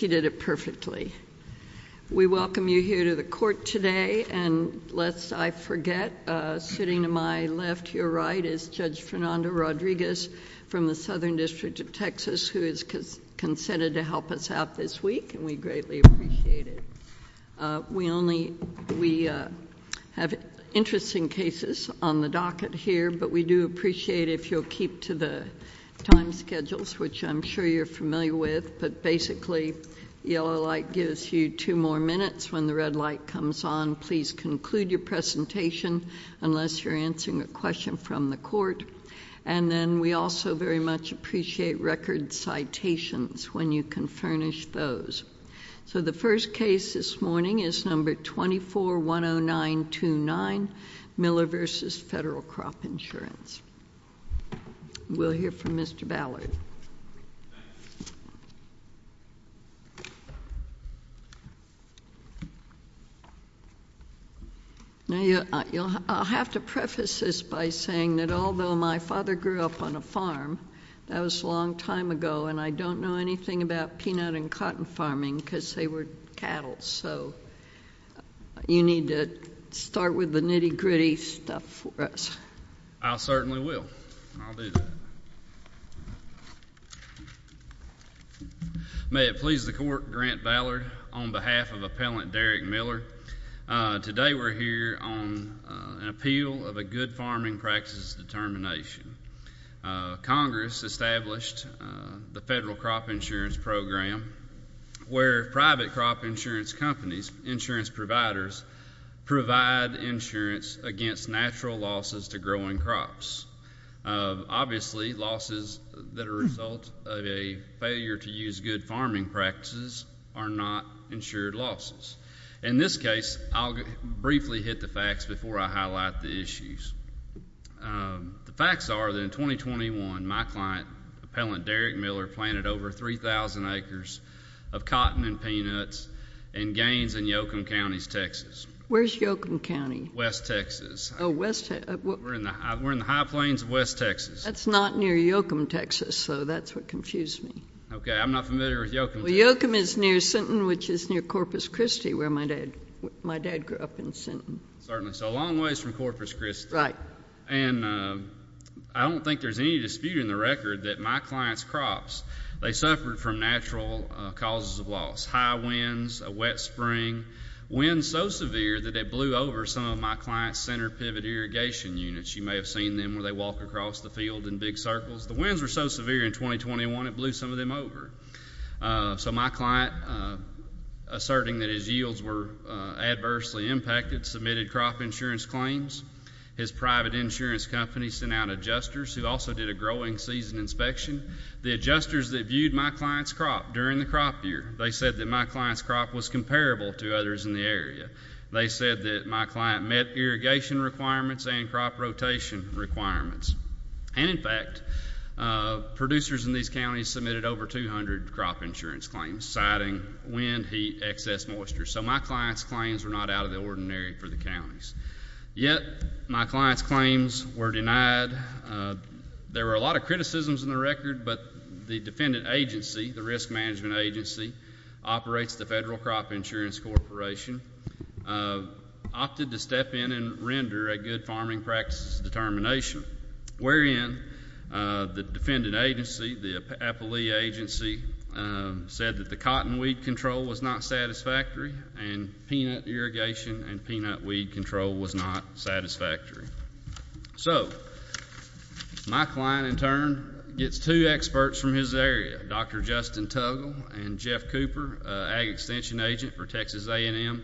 He did it perfectly. We welcome you here to the Court today, and lest I forget, sitting to my left, your right, is Judge Fernando Rodriguez from the Southern District of Texas, who has consented to help us out this week, and we greatly appreciate it. We only... we have interesting cases on the docket here, but we do appreciate if you'll keep to the time schedules, which I'm sure you're familiar with, but basically, the yellow light gives you two more minutes. When the red light comes on, please conclude your presentation, unless you're answering a question from the Court, and then we also very much appreciate record citations, when you can furnish those. So the first case this morning is No. 2410929, Miller v. Federal Crop Insurance. We'll hear from Mr. Ballard. Now, I'll have to preface this by saying that although my father grew up on a farm, that was a long time ago, and I don't know anything about peanut and cotton farming, because they were cattle, so you need to start with the nitty-gritty stuff for us. I certainly will, and I'll do that. May it please the Court, Grant Ballard, on behalf of Appellant Derrick Miller, today we're here on an appeal of a good farming practice determination. Congress established the Federal Crop Insurance Program, where private crop insurance companies, insurance providers, provide insurance against natural losses to growing crops. Obviously, losses that are a result of a failure to use good farming practices are not insured losses. In this case, I'll briefly hit the facts before I highlight the issues. The facts are that in 2021, my client, Appellant Derrick Miller, planted over 3,000 acres of cotton and peanuts in Gaines and Yocum Counties, Texas. Where's Yocum County? West Texas. We're in the high plains of West Texas. That's not near Yocum, Texas, so that's what confused me. OK, I'm not familiar with Yocum. Well, Yocum is near Sinton, which is near Corpus Christi, where my dad grew up in Sinton. Certainly, so a long ways from Corpus Christi. Right. And I don't think there's any dispute in the record that my client's crops, they suffered from natural causes of loss. High winds, a wet spring, winds so severe that it blew over some of my client's center pivot irrigation units. You may have seen them where they walk across the field in big circles. The winds were so severe in 2021, it blew some of them over. So my client, asserting that his yields were adversely impacted, submitted crop insurance claims. His private insurance company sent out adjusters who also did a growing season inspection. The adjusters that viewed my client's crop during the crop year, they said that my client's crop was comparable to others in the area. They said that my client met irrigation requirements and crop rotation requirements. And in fact, producers in these counties submitted over 200 crop insurance claims, citing wind, heat, excess moisture. So my client's claims were not out of the ordinary for the counties. Yet my client's claims were denied. There were a lot of criticisms in the record, but the defendant agency, the agency operates the Federal Crop Insurance Corporation, opted to step in and render a good farming practices determination, wherein the defendant agency, the agency said that the cotton weed control was not satisfactory and peanut irrigation and peanut weed control was not satisfactory. So my client, in turn, gets two experts from his area. Dr. Justin Tuggle and Jeff Cooper, ag extension agent for Texas A&M,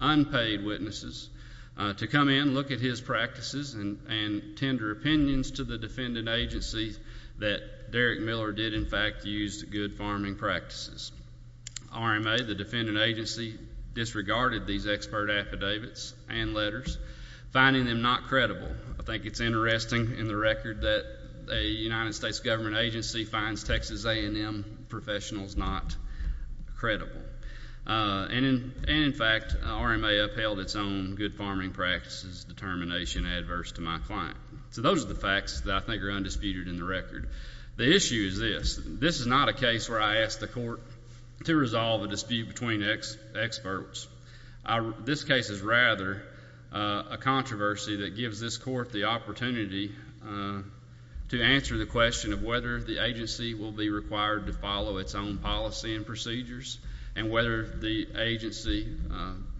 unpaid witnesses, to come in and look at his practices and tender opinions to the defendant agency that Derrick Miller did, in fact, use good farming practices. RMA, the defendant agency, disregarded these expert affidavits and letters, finding them not credible. I think it's interesting in the record that a United States government agency finds Texas A&M professionals not credible. And, in fact, RMA upheld its own good farming practices determination adverse to my client. So those are the facts that I think are undisputed in the record. The issue is this. This is not a case where I ask the court to resolve a dispute between experts. This case is rather a controversy that gives this court the opportunity to answer the question of whether the agency will be required to follow its own policy and procedures, and whether the agency,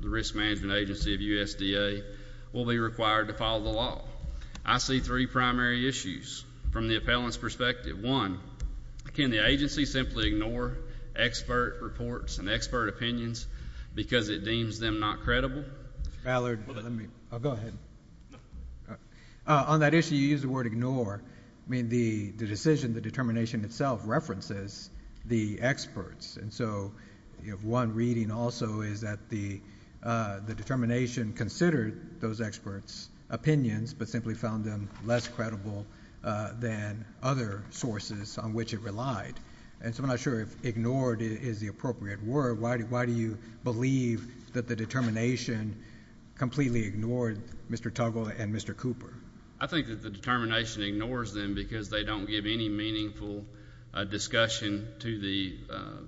the risk management agency of USDA, will be required to follow the law. I see three primary issues from the appellant's perspective. One, can the agency simply ignore expert reports and expert opinions because it deems them not credible? Mr. Ballard, let me... go ahead. On that issue, you used the word ignore. The decision, the determination itself, references the experts. One reading also is that the determination considered those experts' opinions but simply found them less credible than other sources on which it relied. I'm not sure if ignored is the appropriate word. Why do you believe that the determination completely ignored Mr. Tuggle and Mr. Cooper? I think that the determination ignores them because they don't give any meaningful discussion to the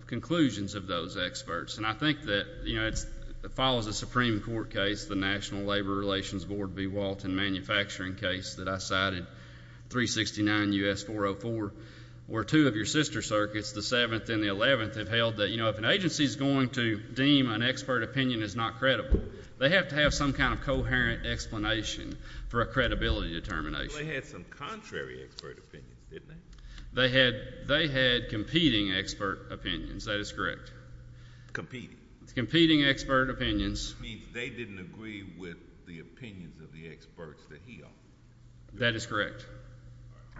conclusions of those experts. I think that it follows a Supreme Court case, the National Labor Relations Board v. Walton manufacturing case that I cited, 369 U.S. 404, where two of your sister circuits, the 7th and the 11th, have held that if an agency is going to deem an expert opinion as not credible, they have to have some kind of coherent explanation for a credibility determination. They had some contrary expert opinions, didn't they? They had competing expert opinions. That is correct. Competing? Competing expert opinions. You mean they didn't agree with the opinions of the experts that he offered? That is correct.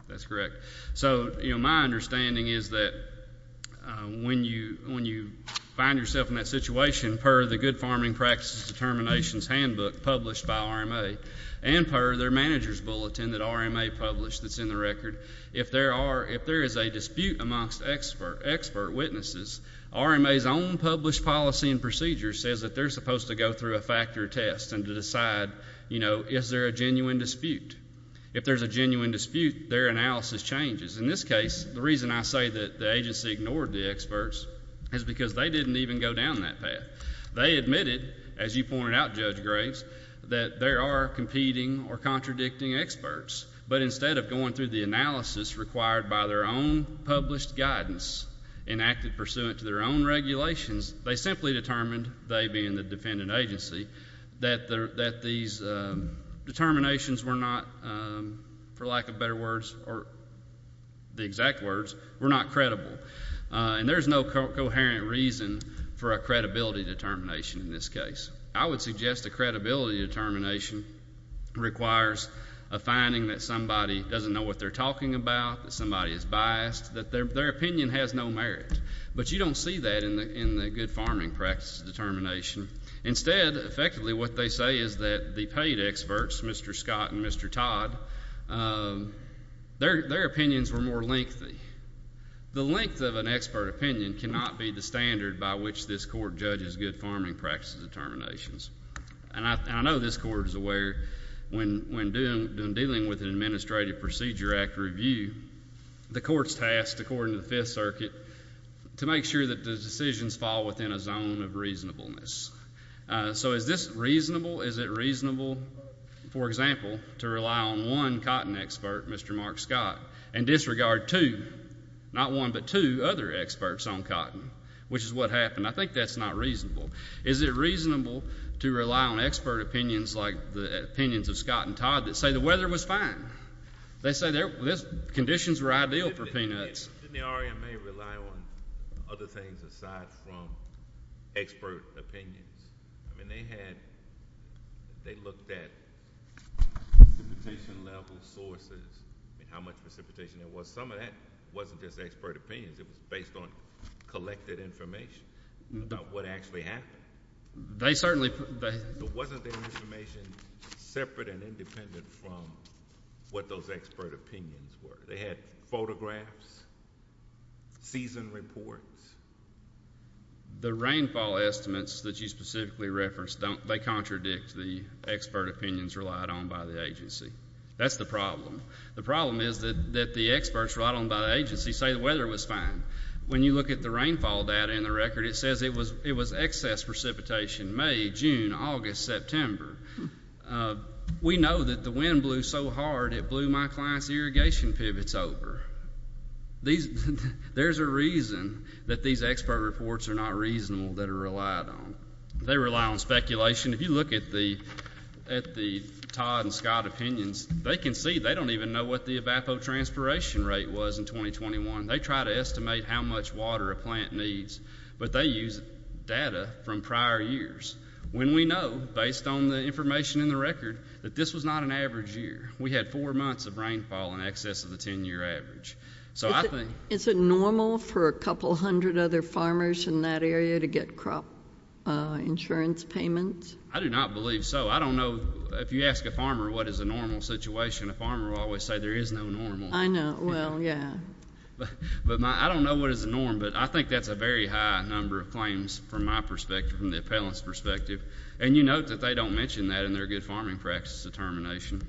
That's correct. My understanding is that when you find yourself in that situation, per the Good Farming Practices Determinations Handbook published by RMA and per their manager's bulletin that RMA published that's in the record, if there is a dispute amongst expert witnesses, RMA's own published policy and procedure says that they're supposed to go through a factor test and to decide is there a genuine dispute. If there is a genuine dispute, their analysis changes. In this case, the reason I say that the agency ignored the experts is because they didn't even go down that path. They admitted, as you pointed out, Judge Graves, that there are competing or contradicting experts, but instead of going through the analysis required by their own published guidance enacted pursuant to their own regulations, they simply determined, they being the defendant agency, that these determinations were not, for lack of better words or the exact words, were not credible. There's no coherent reason for a credibility determination in this case. I would suggest a credibility determination requires a finding that somebody doesn't know what they're talking about, that somebody is biased, that their opinion has no merit, but you don't see that in the Good Farming Practices Determination. Instead, effectively what they say is that the paid experts, Mr. Scott and Mr. Todd, their opinions were more lengthy. The length of an expert opinion cannot be the standard by which this court judges Good Farming Practices Determinations, and I know this court is aware when dealing with an Administrative Procedure Act review, the court's tasked, according to the Fifth Circuit, to make sure that the decisions fall within a zone of reasonableness. So is this reasonable? Is it reasonable, for example, to rely on one cotton expert, Mr. Mark Scott, and disregard two, not one, but two other experts on cotton, which is what happened? I think that's not reasonable. Is it reasonable to rely on expert opinions like the opinions of Scott and Todd that say the weather was fine? They say conditions were ideal for peanuts. Wouldn't the R.E.M. may rely on other things, aside from expert opinions? I mean they had... they looked at precipitation-level sources, how much precipitation there was. Some of that wasn't just expert opinions. If it's based on collected information about what actually happened. There wasn't their information separate and independent from what those expert opinions were. They had photographs, season reports. The rainfall estimates that you specifically referenced don't... they contradict the expert opinions relied on by the agency. That's the problem. The problem is that the experts relied on by the agency say the weather was fine. When you look at the rainfall data in the record, it says it was excess precipitation May, June, August, September. We know that the wind blew so hard it blew my client's irrigation pivots over. There's a reason that these expert reports are not reasonable that are relied on. They rely on speculation. If you look at the Todd and Scott opinions, they can see they don't even know what the evapotranspiration rate was in 2021. They try to estimate how much water a plant needs. But they use data from prior years. When we know, based on the information in the record, that this was not an average year. We had four months of rainfall in excess of the ten-year average. So I think... Is it normal for a couple hundred other farmers in that area to get crop insurance payments? I do not believe so. I don't know. If you ask a farmer what is a normal situation, a farmer will always say there is no normal. I know. Well, yeah. But I don't know what is a norm, but I think that's a very high number of claims from my perspective, from the appellant's perspective. And you note that they don't mention that in their good farming practice determination.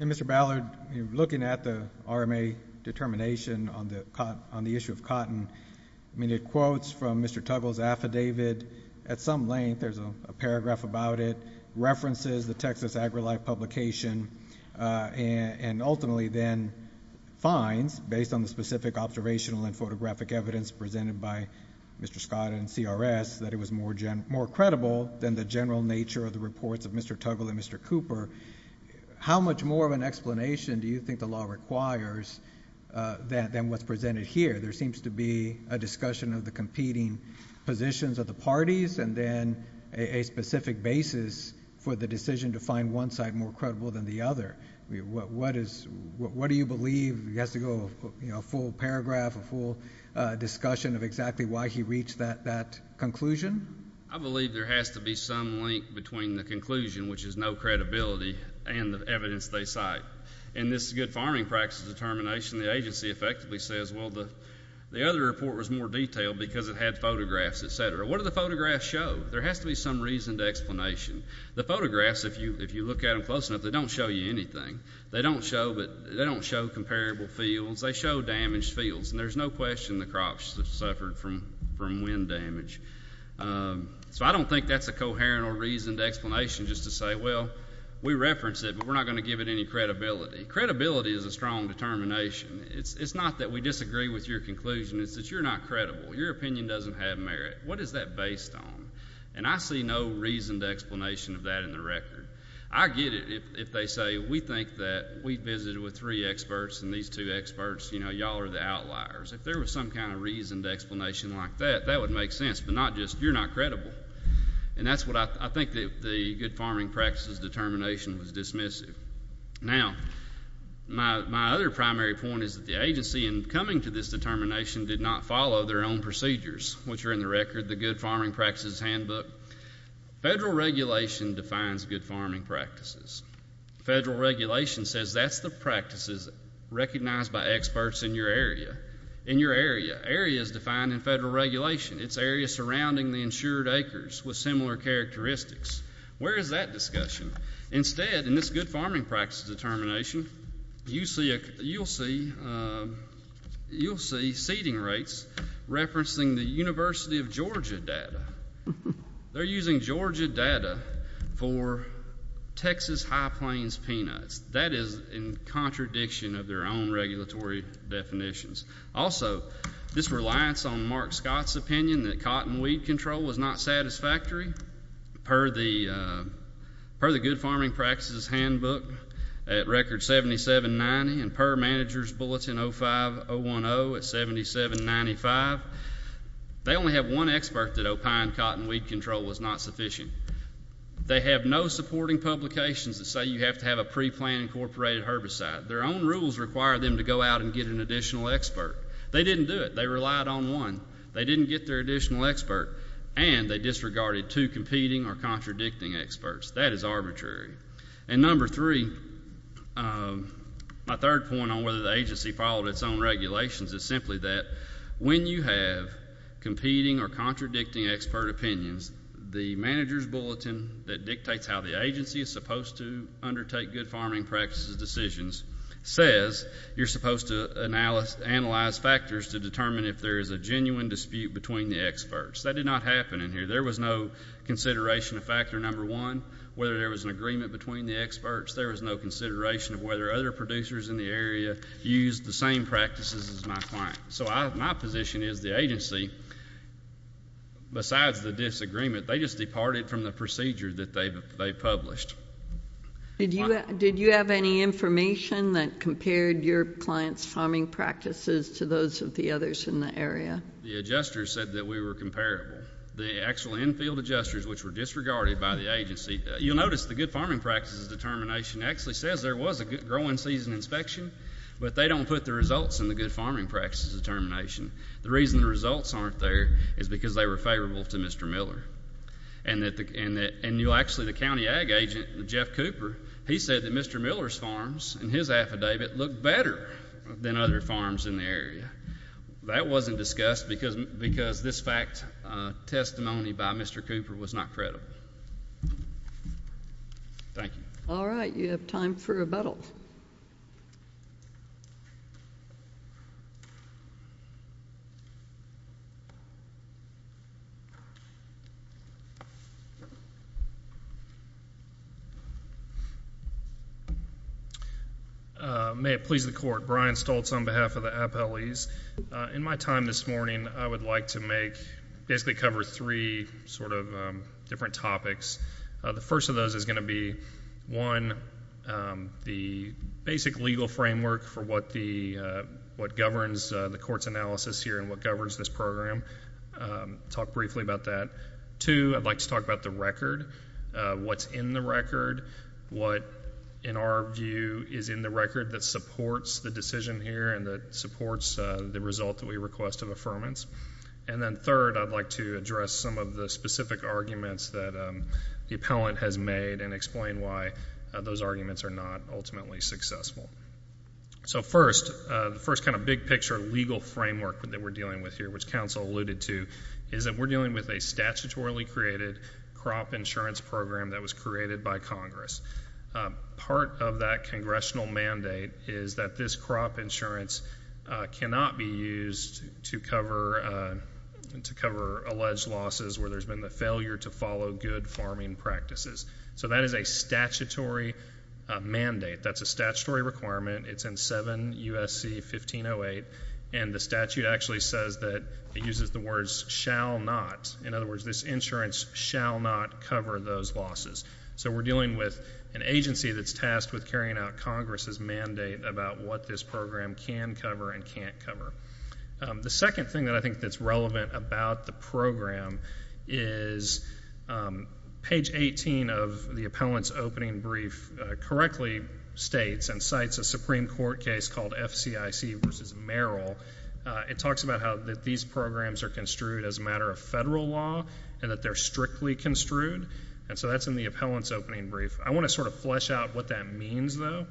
And Mr. Ballard, looking at the RMA determination on the issue of cotton, I mean, it quotes from Mr. Tuggle's affidavit at some length, there's a paragraph about it, references the Texas AgriLife publication, and ultimately then finds, based on the specific observational and photographic evidence presented by Mr. Scott and CRS, that it was more credible than the general nature of the reports of Mr. Tuggle and Mr. Cooper. How much more of an explanation do you think the law requires than what's presented here? There seems to be a discussion of the competing positions of the parties, and then a specific basis for the decision to find one side more credible than the other. What do you believe? It has to go, you know, a full paragraph, a full discussion of exactly why he reached that conclusion? I believe there has to be some link between the conclusion, which is no credibility, and the evidence they cite. In this good farming practice determination, the agency effectively says, well, the other report was more detailed because it had photographs, et cetera. What do the photographs show? There has to be some reason to explanation. The photographs, if you look at them close enough, they don't show you anything. They don't show comparable fields. They show damaged fields, and there's no question the crops suffered from wind damage. So I don't think that's a coherent or reasoned explanation just to say, well, we referenced it, but we're not going to give it any credibility. Credibility is a strong determination. It's not that we disagree with your conclusion. It's that you're not credible. Your opinion doesn't have merit. What is that based on? And I see no reasoned explanation of that in the record. I get it if they say, we think that we visited with three experts, and these two experts, you know, y'all are the outliers. If there was some kind of reasoned explanation like that, that would make sense. But not just, you're not credible. And that's what I think the good farming practice's determination was dismissive. Now, my other primary point is that the agency, in coming to this determination, did not follow their own procedures, which are in the record. The good farming practice's handbook. Federal regulation defines good farming practices. Federal regulation says that's the practices recognized by experts in your area. In your area. Area is defined in federal regulation. It's areas surrounding the insured acres with similar characteristics. Where is that discussion? Instead, in this good farming practice determination, you'll see seeding rates referencing the University of Georgia data. They're using Georgia data for Texas high plains peanuts. That is in contradiction of their own regulatory definitions. Also, this reliance on Mark Scott's opinion that cotton weed control was not satisfactory, per the good farming practice's handbook at record 7790, and per manager's bulletin 05010 at 7795. They only have one expert that opined cotton weed control was not sufficient. They have no supporting publications that say you have to have a pre-planned incorporated herbicide. Their own rules require them to go out and get an additional expert. They didn't do it. They relied on one. They didn't get their additional expert, and they disregarded two competing or contradicting experts. That is arbitrary. And number three, my third point on whether the agency followed its own regulations is simply that when you have competing or contradicting expert opinions, the manager's bulletin that dictates how the agency is supposed to undertake good farming practices decisions says you're supposed to analyze factors to determine if there is a genuine dispute between the experts. That did not happen in here. There was no consideration of factor number one, whether there was an agreement between the experts. There was no consideration of whether other producers in the area used the same practices as my client. So my position is the agency, besides the disagreement, they just departed from the procedure that they published. Did you have any information that compared your client's farming practices to those of the others in the area? The adjusters said that we were comparable. The actual infield adjusters, which were disregarded by the agency, you'll notice the good farming practices determination actually says there was a good growing season inspection, but they don't put the results in the good farming practices determination. The reason the results aren't there is because they were favorable to Mr. Miller. And actually the county ag agent, Jeff Cooper, he said that Mr. Miller's farms in his affidavit looked better than other farms in the area. That wasn't discussed because this fact testimony by Mr. Cooper was not credible. Thank you. All right. You have time for rebuttal. May it please the court. Brian Stoltz on behalf of the appellees. In my time this morning, I would like to make, basically cover three sort of different topics. The first of those is going to be, one, the basic legal framework for what governs the court's analysis here and what governs this program. Talk briefly about that. Two, I'd like to talk about the record, what's in the record, what in our view is in the record that supports the decision here and that supports the result that we request of affirmance. And then third, I'd like to address some of the specific arguments that the appellant has made and explain why those arguments are not ultimately successful. So first, the first kind of big picture legal framework that we're dealing with here, which counsel alluded to, is that we're dealing with a statutorily created crop insurance program that was created by Congress. Part of that congressional mandate is that this crop insurance cannot be used to cover alleged losses where there's been a failure to follow good farming practices. So that is a statutory mandate. That's a statutory requirement. It's in 7 U.S.C. 1508. And the statute actually says that, it uses the words, shall not. In other words, this insurance shall not cover those losses. So we're dealing with an agency that's tasked with carrying out Congress's mandate about what this program can cover and can't cover. The second thing that I think that's relevant about the program is page 18 of the appellant's opening brief correctly states and cites a Supreme Court case called F.C.I.C. v. Merrill. It talks about how these programs are construed as a matter of federal law and that they're strictly construed. And so that's in the appellant's opening brief. I want to sort of flesh out what that means, though.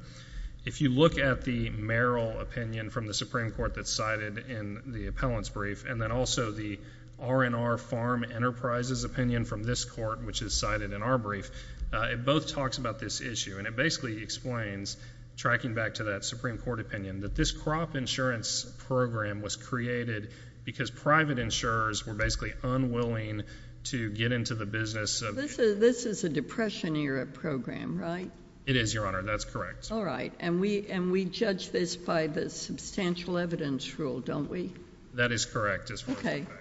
If you look at the Merrill opinion from the Supreme Court that's cited in the appellant's brief, and then also the R&R Farm Enterprises opinion from this court, which is cited in our brief, it both talks about this issue. And it basically explains, tracking back to that Supreme Court opinion, that this crop insurance program was created because private insurers were basically unwilling to get into the business of— This is a Depression-era program, right? It is, Your Honor. That's correct. All right. And we judge this by the substantial evidence rule, don't we? That is correct, as far as I'm concerned.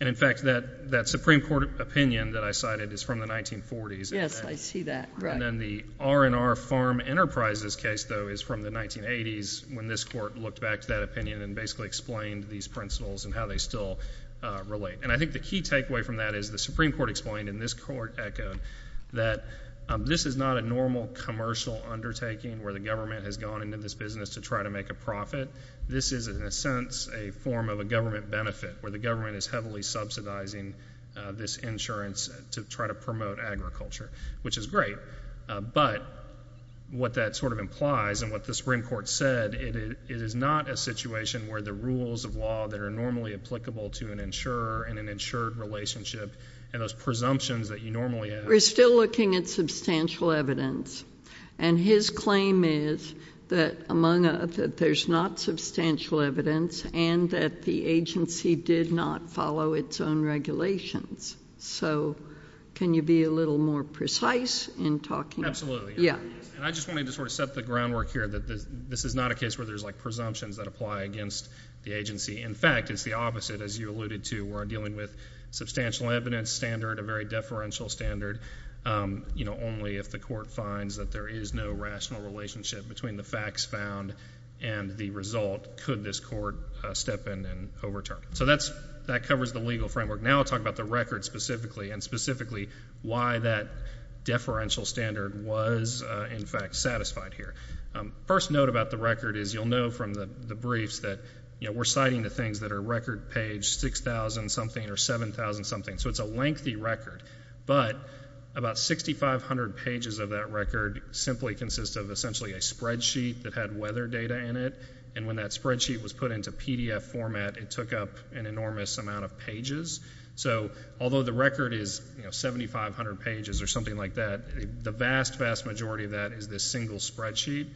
And, in fact, that Supreme Court opinion that I cited is from the 1940s. Yes, I see that. Right. And then the R&R Farm Enterprises case, though, is from the 1980s when this court looked back to that opinion and basically explained these principles and how they still relate. And I think the key takeaway from that is the Supreme Court explained, and this court echoed, that this is not a normal commercial undertaking where the government has gone into this business to try to make a profit. This is, in a sense, a form of a government benefit, where the government is heavily subsidizing this insurance to try to promote agriculture, which is great. But what that sort of implies and what the Supreme Court said, it is not a situation where the rules of law that are normally applicable to an insurer and an insured relationship and those presumptions that you normally have— We're still looking at substantial evidence. And his claim is that there's not substantial evidence and that the agency did not follow its own regulations. So can you be a little more precise in talking— Absolutely. Yeah. And I just wanted to sort of set the groundwork here that this is not a case where there's, like, presumptions that apply against the agency. In fact, it's the opposite, as you alluded to. We're dealing with substantial evidence standard, a very deferential standard. You know, only if the court finds that there is no rational relationship between the facts found and the result, could this court step in and overturn. So that covers the legal framework. Now I'll talk about the record specifically and specifically why that deferential standard was, in fact, satisfied here. First note about the record is you'll know from the briefs that, you know, we're citing the things that are record page 6,000-something or 7,000-something. So it's a lengthy record. But about 6,500 pages of that record simply consist of essentially a spreadsheet that had weather data in it. And when that spreadsheet was put into PDF format, it took up an enormous amount of pages. So although the record is, you know, 7,500 pages or something like that, the vast, vast majority of that is this single spreadsheet.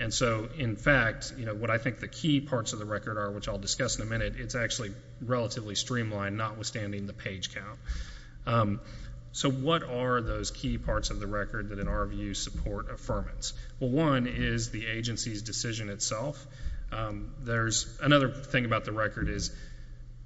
And so, in fact, you know, what I think the key parts of the record are, which I'll discuss in a minute, it's actually relatively streamlined, notwithstanding the page count. So what are those key parts of the record that, in our view, support affirmance? Well, one is the agency's decision itself. There's another thing about the record is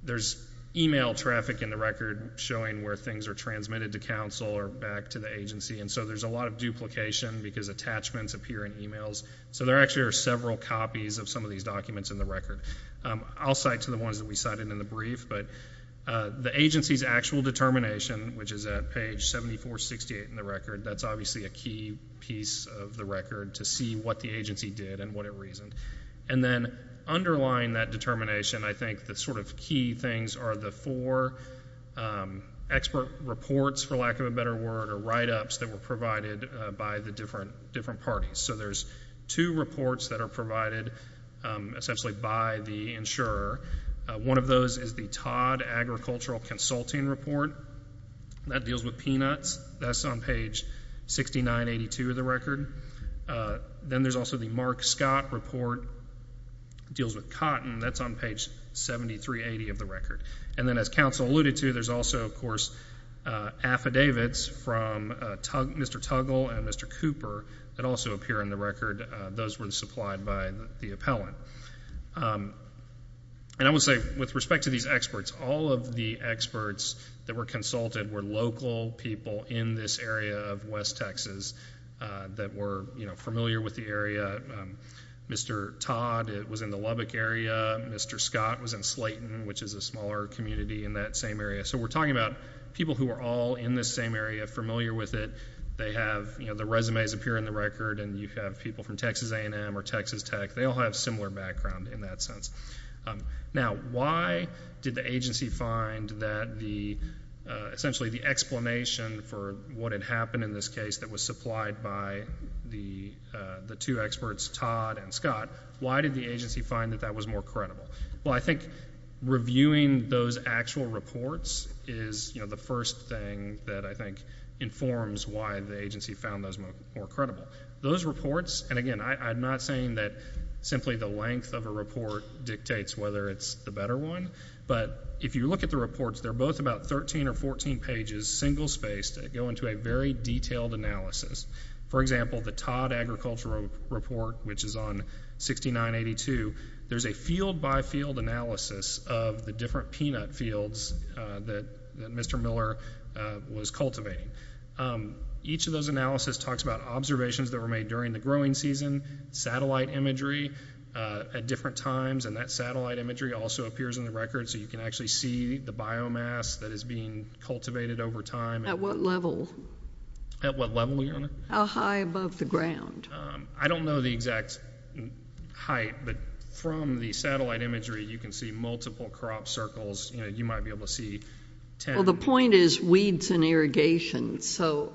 there's e-mail traffic in the record showing where things are transmitted to counsel or back to the agency. And so there's a lot of duplication because attachments appear in e-mails. So there actually are several copies of some of these documents in the record. I'll cite to the ones that we cited in the brief. But the agency's actual determination, which is at page 7468 in the record, that's obviously a key piece of the record to see what the agency did and what it reasoned. And then underlying that determination, I think the sort of key things are the four expert reports, for lack of a better word, or write-ups that were provided by the different parties. So there's two reports that are provided essentially by the insurer. One of those is the Todd Agricultural Consulting Report. That deals with peanuts. That's on page 6982 of the record. Then there's also the Mark Scott Report. It deals with cotton. That's on page 7380 of the record. And then as counsel alluded to, there's also, of course, affidavits from Mr. Tuggle and Mr. Cooper that also appear in the record. Those were supplied by the appellant. And I would say with respect to these experts, all of the experts that were consulted were local people in this area of West Texas that were familiar with the area. Mr. Todd was in the Lubbock area. Mr. Scott was in Slayton, which is a smaller community in that same area. So we're talking about people who are all in this same area, familiar with it. They have the resumes appear in the record, and you have people from Texas A&M or Texas Tech. They all have similar background in that sense. Now, why did the agency find that essentially the explanation for what had happened in this case that was supplied by the two experts, Todd and Scott, why did the agency find that that was more credible? Well, I think reviewing those actual reports is the first thing that I think informs why the agency found those more credible. Those reports, and again, I'm not saying that simply the length of a report dictates whether it's the better one. But if you look at the reports, they're both about 13 or 14 pages, single-spaced. They go into a very detailed analysis. For example, the Todd Agricultural Report, which is on 6982, there's a field-by-field analysis of the different peanut fields that Mr. Miller was cultivating. Each of those analysis talks about observations that were made during the growing season, satellite imagery at different times, and that satellite imagery also appears in the record, so you can actually see the biomass that is being cultivated over time. At what level? At what level, Your Honor? How high above the ground? I don't know the exact height, but from the satellite imagery, you can see multiple crop circles. You might be able to see ten. Well, the point is weeds and irrigation, so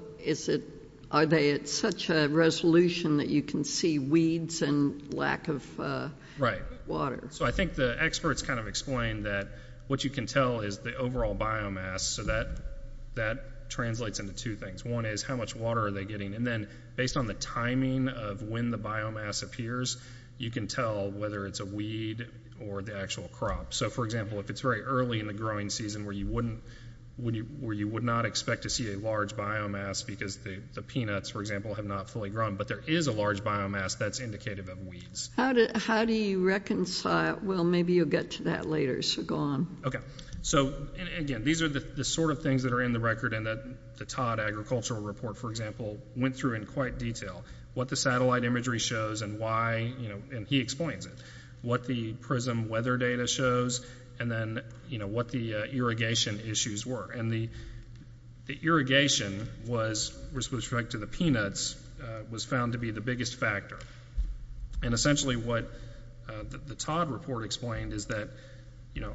are they at such a resolution that you can see weeds and lack of water? So I think the experts kind of explained that what you can tell is the overall biomass, so that translates into two things. One is how much water are they getting, and then based on the timing of when the biomass appears, you can tell whether it's a weed or the actual crop. So, for example, if it's very early in the growing season where you would not expect to see a large biomass because the peanuts, for example, have not fully grown, but there is a large biomass, that's indicative of weeds. How do you reconcile? Well, maybe you'll get to that later, so go on. Okay. So, again, these are the sort of things that are in the record and that the Todd Agricultural Report, for example, went through in quite detail. What the satellite imagery shows and why, and he explains it. What the PRISM weather data shows and then, you know, what the irrigation issues were. And the irrigation was, with respect to the peanuts, was found to be the biggest factor. And essentially what the Todd report explained is that, you know,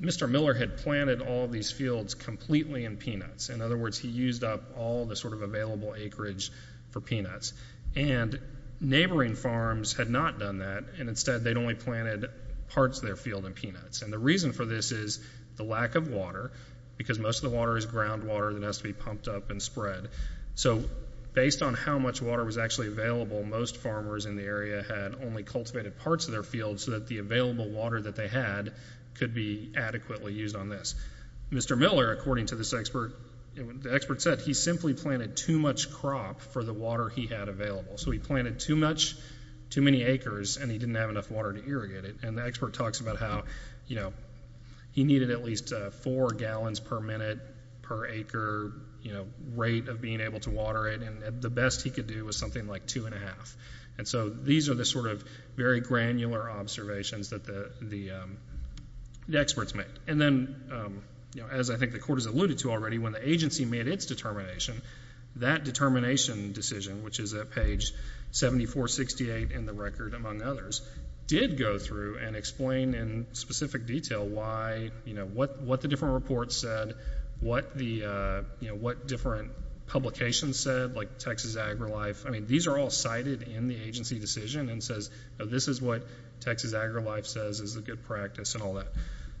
Mr. Miller had planted all these fields completely in peanuts. In other words, he used up all the sort of available acreage for peanuts. And neighboring farms had not done that, and instead they'd only planted parts of their field in peanuts. And the reason for this is the lack of water, because most of the water is ground water that has to be pumped up and spread. So, based on how much water was actually available, most farmers in the area had only cultivated parts of their field so that the available water that they had could be adequately used on this. Mr. Miller, according to this expert, the expert said, he simply planted too much crop for the water he had available. So he planted too much, too many acres, and he didn't have enough water to irrigate it. And the expert talks about how, you know, he needed at least four gallons per minute per acre, you know, rate of being able to water it. And the best he could do was something like two and a half. And so these are the sort of very granular observations that the experts made. And then, you know, as I think the court has alluded to already, when the agency made its determination, that determination decision, which is at page 7468 in the record, among others, did go through and explain in specific detail why, you know, what the different reports said, what the, you know, what different publications said, like Texas AgriLife. I mean, these are all cited in the agency decision and says, this is what Texas AgriLife says is a good practice and all that.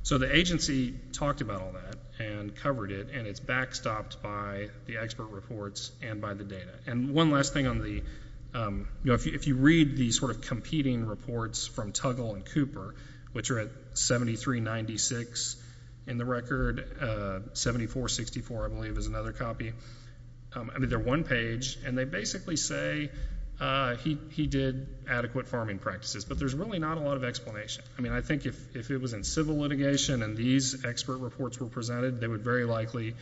So the agency talked about all that and covered it, and it's backstopped by the expert reports and by the data. And one last thing on the, you know, if you read the sort of competing reports from Tuggle and Cooper, which are at 7396 in the record, 7464, I believe, is another copy. I mean, they're one page, and they basically say he did adequate farming practices. But there's really not a lot of explanation. I mean, I think if it was in civil litigation and these expert reports were presented, they would very likely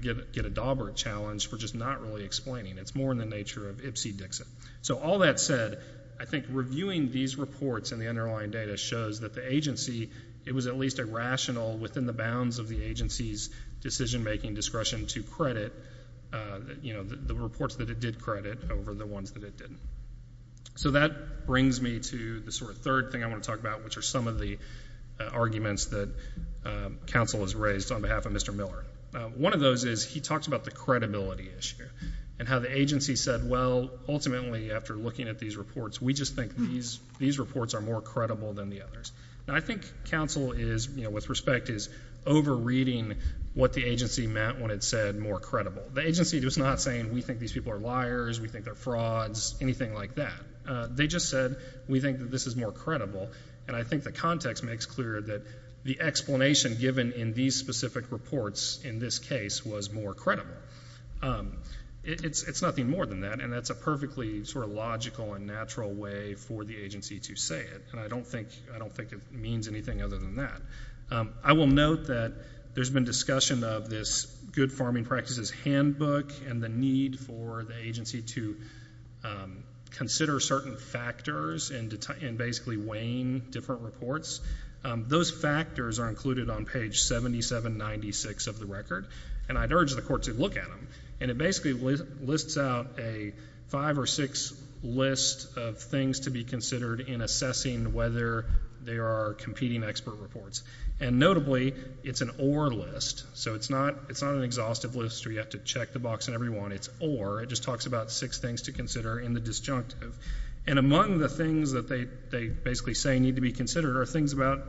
get a dauber challenge for just not really explaining. It's more in the nature of Ipsy-Dixit. So all that said, I think reviewing these reports and the underlying data shows that the agency, it was at least a rational within the bounds of the agency's decision making discretion to credit, you know, the reports that it did credit over the ones that it didn't. So that brings me to the sort of third thing I want to talk about, which are some of the arguments that counsel has raised on behalf of Mr. Miller. One of those is he talks about the credibility issue and how the agency said, well, ultimately, after looking at these reports, we just think these reports are more credible than the others. And I think counsel is, you know, with respect, is over-reading what the agency meant when it said more credible. The agency was not saying we think these people are liars, we think they're frauds, anything like that. They just said we think that this is more credible. And I think the context makes clear that the explanation given in these specific reports in this case was more credible. It's nothing more than that, and that's a perfectly sort of logical and natural way for the agency to say it. And I don't think it means anything other than that. I will note that there's been discussion of this Good Farming Practices Handbook and the need for the agency to consider certain factors in basically weighing different reports. Those factors are included on page 7796 of the record, and I'd urge the Court to look at them. And it basically lists out a five or six list of things to be considered in assessing whether there are competing expert reports. And notably, it's an or list, so it's not an exhaustive list where you have to check the box on every one. It's or. It just talks about six things to consider in the disjunctive. And among the things that they basically say need to be considered are things about,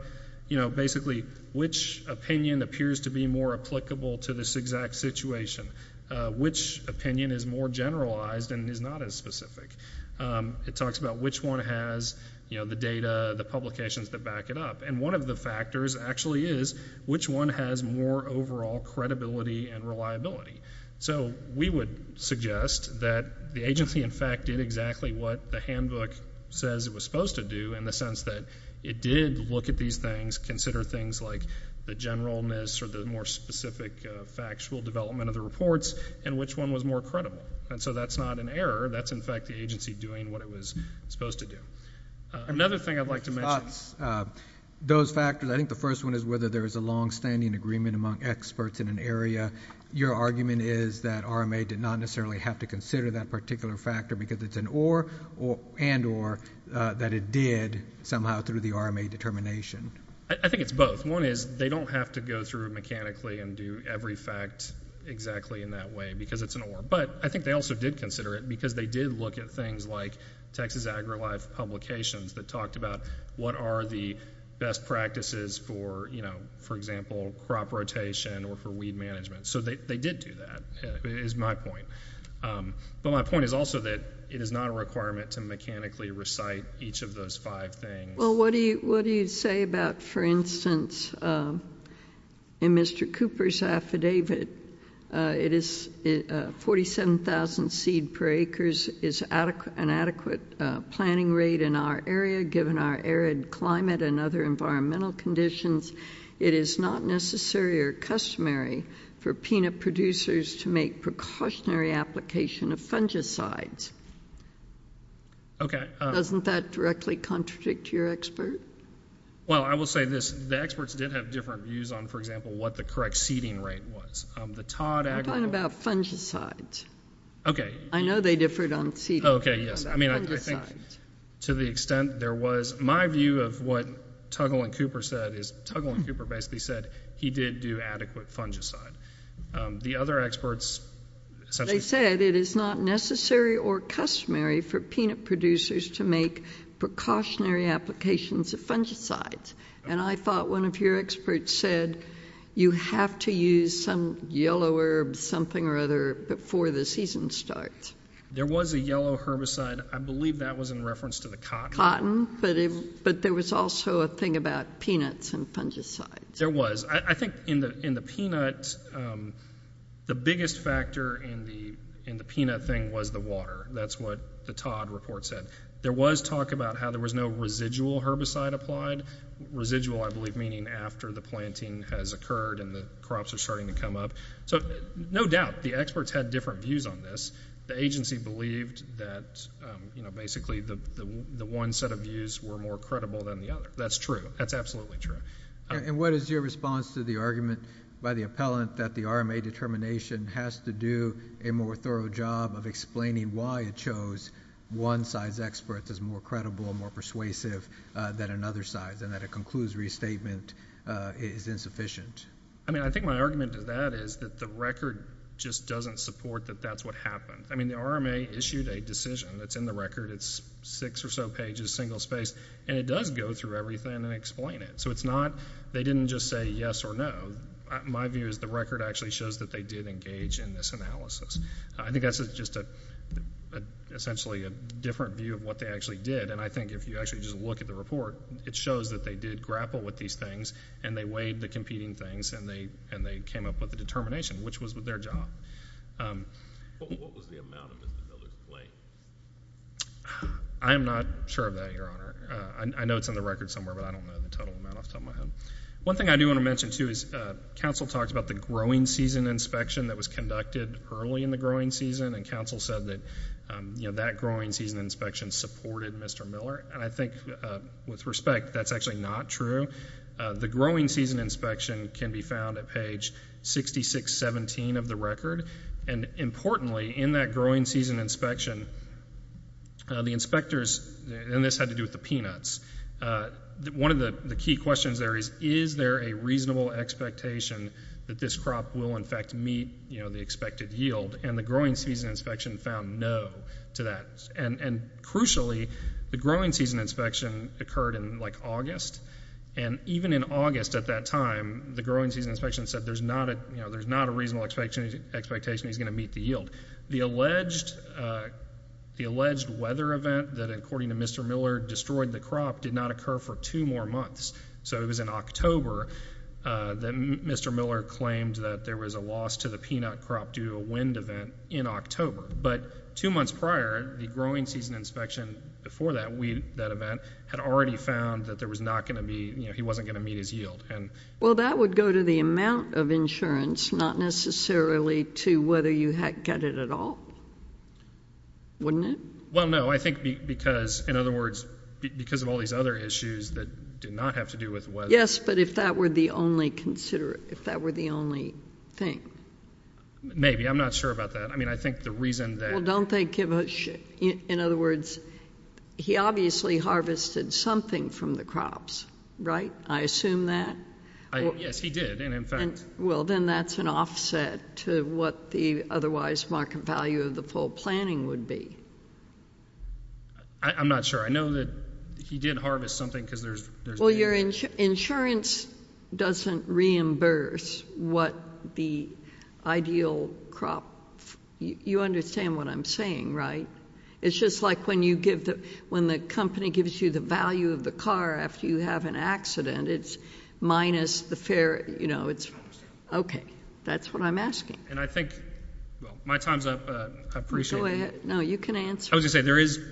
you know, basically which opinion appears to be more applicable to this exact situation, which opinion is more generalized and is not as specific. It talks about which one has, you know, the data, the publications that back it up. And one of the factors actually is which one has more overall credibility and reliability. So we would suggest that the agency, in fact, did exactly what the handbook says it was supposed to do in the sense that it did look at these things, consider things like the generalness or the more specific factual development of the reports, and which one was more credible. And so that's not an error. That's, in fact, the agency doing what it was supposed to do. Another thing I'd like to mention. Those factors, I think the first one is whether there is a longstanding agreement among experts in an area. Your argument is that RMA did not necessarily have to consider that particular factor because it's an or and or that it did somehow through the RMA determination. I think it's both. One is they don't have to go through mechanically and do every fact exactly in that way because it's an or. But I think they also did consider it because they did look at things like Texas AgriLife publications that talked about what are the best practices for, you know, for example, crop rotation or for weed management. So they did do that, is my point. But my point is also that it is not a requirement to mechanically recite each of those five things. Well, what do you say about, for instance, in Mr. Cooper's affidavit, it is 47,000 seed per acres is an adequate planting rate in our area given our arid climate and other environmental conditions. It is not necessary or customary for peanut producers to make precautionary application of fungicides. Okay. Doesn't that directly contradict your expert? Well, I will say this. The experts did have different views on, for example, what the correct seeding rate was. We're talking about fungicides. Okay. I know they differed on seeding. Okay, yes. I mean, I think to the extent there was my view of what Tuggle and Cooper said is Tuggle and Cooper basically said he did do adequate fungicide. The other experts essentially... They said it is not necessary or customary for peanut producers to make precautionary applications of fungicides. And I thought one of your experts said you have to use some yellow herb, something or other, before the season starts. There was a yellow herbicide. I believe that was in reference to the cotton. But there was also a thing about peanuts and fungicides. There was. I think in the peanuts, the biggest factor in the peanut thing was the water. That's what the Todd report said. There was talk about how there was no residual herbicide applied. Residual, I believe, meaning after the planting has occurred and the crops are starting to come up. So, no doubt, the experts had different views on this. The agency believed that, you know, one set of views were more credible than the other. That's true. That's absolutely true. And what is your response to the argument by the appellant that the RMA determination has to do a more thorough job of explaining why it chose one size expert that's more credible and more persuasive than another size and that it concludes restatement is insufficient? I mean, I think my argument to that is that the record just doesn't support that that's what happened. I mean, the RMA issued a decision that's in the record. It's six or so pages, single spaced, and it does go through everything and explain it. So it's not they didn't just say yes or no. My view is the record actually shows that they did engage in this analysis. I think that's just essentially a different view of what they actually did, and I think if you actually just look at the report, it shows that they did grapple with these things and they weighed the competing things and they came up with a determination, which was their job. What was the amount of Mr. Miller's plate? I am not sure of that, Your Honor. I know it's in the record somewhere, but I don't know the total amount off the top of my head. One thing I do want to mention, too, is counsel talked about the growing season inspection that was conducted early in the growing season, and counsel said that, you know, that growing season inspection supported Mr. Miller, and I think with respect, that's actually not true. The growing season inspection can be found at page 6617 of the record, and importantly, in that growing season inspection, the inspectors, and this had to do with the peanuts, one of the key questions there is, is there a reasonable expectation that this crop will in fact meet, you know, the expected yield, and the growing season inspection found no to that, and crucially, the growing season inspection occurred in, like, August, and even in August at that time, the growing season inspection said there's not a reasonable expectation he's going to meet the yield. The alleged weather event that according to Mr. Miller destroyed the crop did not occur for two more months, so it was in October that Mr. Miller claimed that there was a loss to the peanut crop due to a wind event in October, but two months prior, the growing season inspection before that event had already found that there was not going to be, you know, he wasn't going to meet his yield. Well, that would go to the amount of insurance, not necessarily to whether you had cut it at all, wouldn't it? Well, no, I think because, in other words, because of all these other issues that did not have to do with weather. Yes, but if that were the only considerate, if that were the only thing. Maybe, I'm not sure about that. I mean, I think the reason that... Well, don't they give a shit. In other words, he obviously harvested something from the crops, right? I assume that. Yes, he did, and in fact... Well, then that's an offset to what the otherwise market value of the full planning would be. I'm not sure. I know that he did harvest something because there's... Well, your insurance doesn't reimburse what the ideal crop... You understand what I'm saying, right? It's just like when you give the... when the company gives you the value of the car after you have an accident, it's minus the fair... You know, it's... I understand. Okay, that's what I'm asking. And I think... Well, my time's up. I appreciate it. Go ahead. No, you can answer. I was gonna say,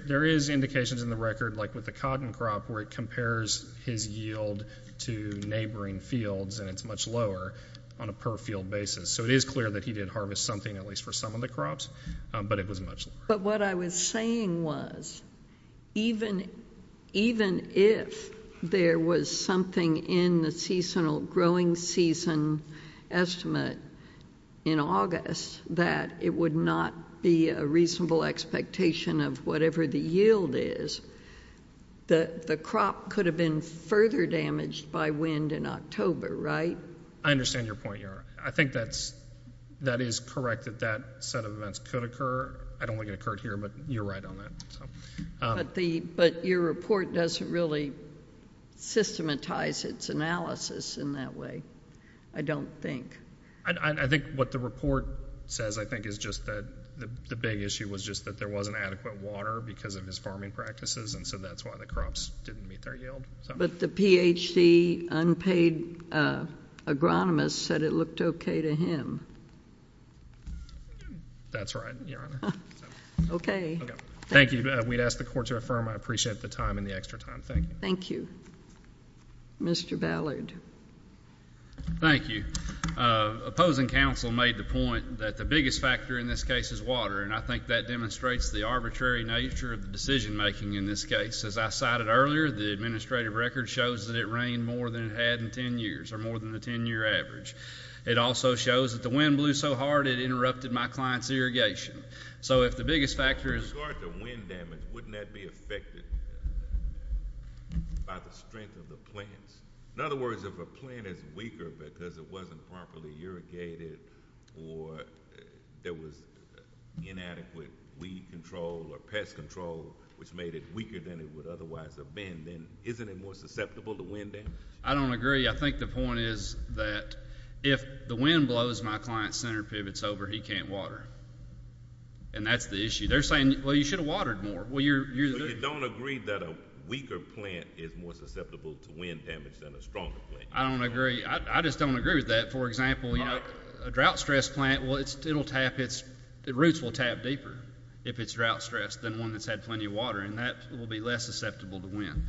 there is indications in the record, like with the cotton crop, where it compares his yield to neighboring fields, and it's much lower on a per-field basis. So it is clear that he did harvest something, at least for some of the crops, but it was much lower. But what I was saying was, even... even if there was something in the seasonal growing season estimate in August that it would not be a reasonable expectation of whatever the yield is, the crop could have been further damaged by wind in October, right? I understand your point, Your Honor. I think that's... that is correct, that that set of events could occur. I don't want it to occur here, but you're right on that. But the... but your report doesn't really systematize its analysis in that way, I don't think. I think what the report says, I think, is just that the big issue was just that there wasn't adequate water because of his farming practices, and so that's why the crops didn't meet their yield. But the PhD unpaid agronomist said it looked okay to him. That's right, Your Honor. Okay. Thank you. We'd ask the court to affirm I appreciate the time and the extra time. Thank you. Thank you. Mr. Ballard. Thank you. Opposing counsel made the point that the biggest factor in this case is water, and I think that demonstrates the arbitrary nature of the decision-making in this case. As I cited earlier, the administrative record shows that it rained more than it had in 10 years, or more than a 10-year average. It also shows that the wind blew so hard it interrupted my client's irrigation. So if the biggest factor is... With regard to wind damage, wouldn't that be affected by the strength of the plants? In other words, if a plant is weaker because it wasn't properly irrigated or there was inadequate weed control or pest control, which made it weaker than it would otherwise have been, then isn't it more susceptible to wind damage? I don't agree. I think the point is that if the wind blows my client's center pivots over, he can't water. And that's the issue. They're saying, well, you should have watered more. You don't agree that a weaker plant is more susceptible to wind damage than a stronger plant? I don't agree. I just don't agree with that. For example, a drought-stressed plant, well, its roots will tap deeper if it's drought-stressed than one that's had plenty of water, and that will be less susceptible to wind.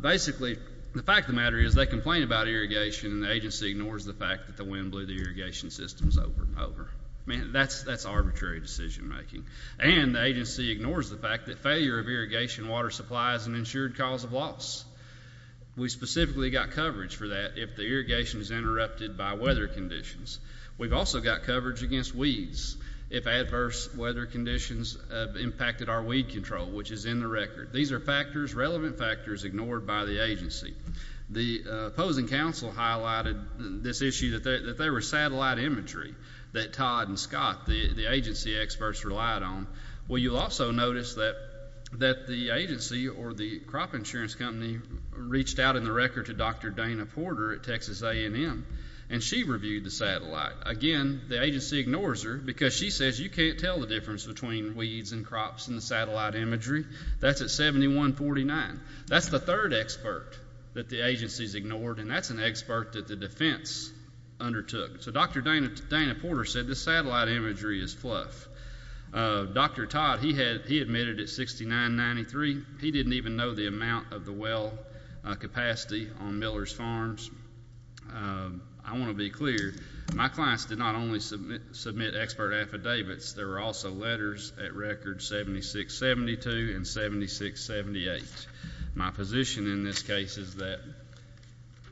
Basically, the fact of the matter is they complain about irrigation and the agency ignores the fact that the wind blew the irrigation systems over and over. That's arbitrary decision-making. And the agency ignores the fact that failure of irrigation water supply is an ensured cause of loss. We specifically got coverage for that if the irrigation is interrupted by weather conditions. We've also got coverage against weeds if adverse weather conditions have impacted our weed control, which is in the record. These are factors, relevant factors, ignored by the agency. The opposing counsel highlighted this issue that they were satellite imagery that Todd and Scott, the agency experts, relied on. Well, you'll also notice that the agency or the crop insurance company reached out in the record to Dr. Dana Porter at Texas A&M, and she reviewed the satellite. Again, the agency ignores her because she says you can't tell the difference between weeds and crops in the satellite imagery. That's at 71.49. That's the third expert that the agency's ignored, and that's an expert that the defense undertook. So Dr. Dana Porter said the satellite imagery is fluff. Dr. Todd, he admitted at 69.93. He didn't even know the amount of the well capacity on Miller's Farms. I want to be clear. My clients did not only submit expert affidavits. There were also letters at records 76.72 and 76.78. My position in this case is that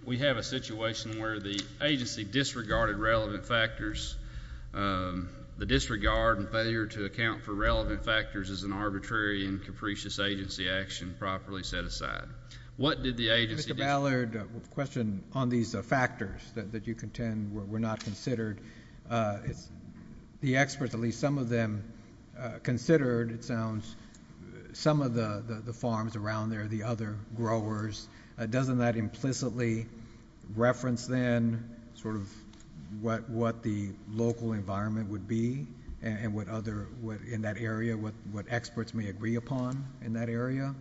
we have a situation where the agency disregarded relevant factors. The disregard and failure to account for relevant factors is an arbitrary and capricious agency action properly set aside. What did the agency do? Mr. Ballard, the question on these factors that you contend were not considered. The experts, at least some of them, considered, it sounds, some of the farms around there, the other growers. Doesn't that implicitly reference then sort of what the local environment would be and what other in that area, what experts may agree upon in that area?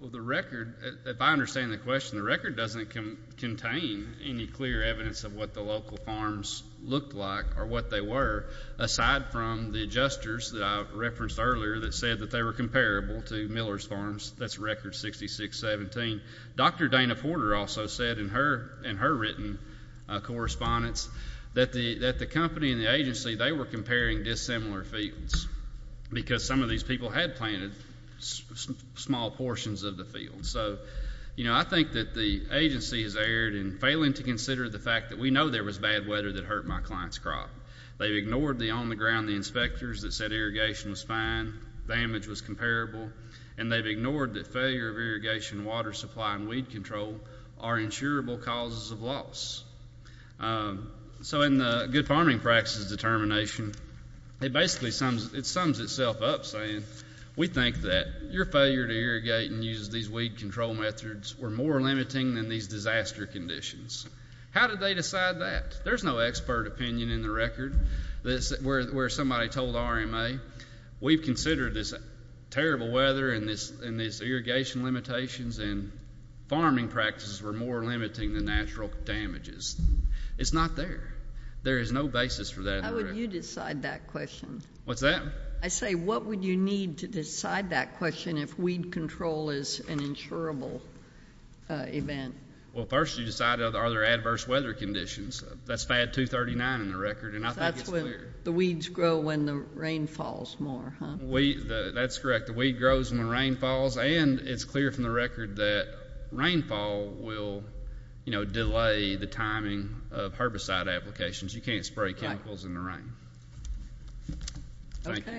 Well, the record, if I understand the question, the record doesn't contain any clear evidence of what the local farms looked like or what they were aside from the adjusters that I referenced earlier that said that they were comparable to Miller's Farms. That's record 66.17. Dr. Dana Porter also said in her written correspondence that the company and the agency, they were comparing dissimilar fields because some of these people had planted small portions of the field. So, you know, I think that the agency has erred in failing to consider the fact that we know there was bad weather that hurt my client's crop. They've ignored the on-the-ground inspectors that said irrigation was fine, damage was comparable, and they've ignored that failure of irrigation, water supply, and weed control are insurable causes of loss. So, in the Good Farming Practices determination, it basically sums itself up saying we think that your failure to irrigate and use these weed control methods were more limiting than these disaster conditions. How did they decide that? There's no expert opinion in the record where somebody told RMA we've considered this terrible weather and these irrigation limitations and farming practices were more limiting than natural damages. It's not there. There is no basis for that. How would you decide that question? What's that? I say, what would you need to decide that question if weed control is an insurable event? Well, first you decide are there adverse weather conditions? That's FAD 239 in the record and I think it's clear. That's when the weeds grow when the rain falls more, huh? That's correct. The weed grows when rain falls and it's clear from the record that rainfall will, you know, delay the timing of herbicide applications. You can't spray chemicals in the rain. Thank you.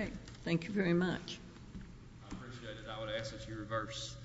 Thank you very much. I appreciate it. I would ask that you reverse.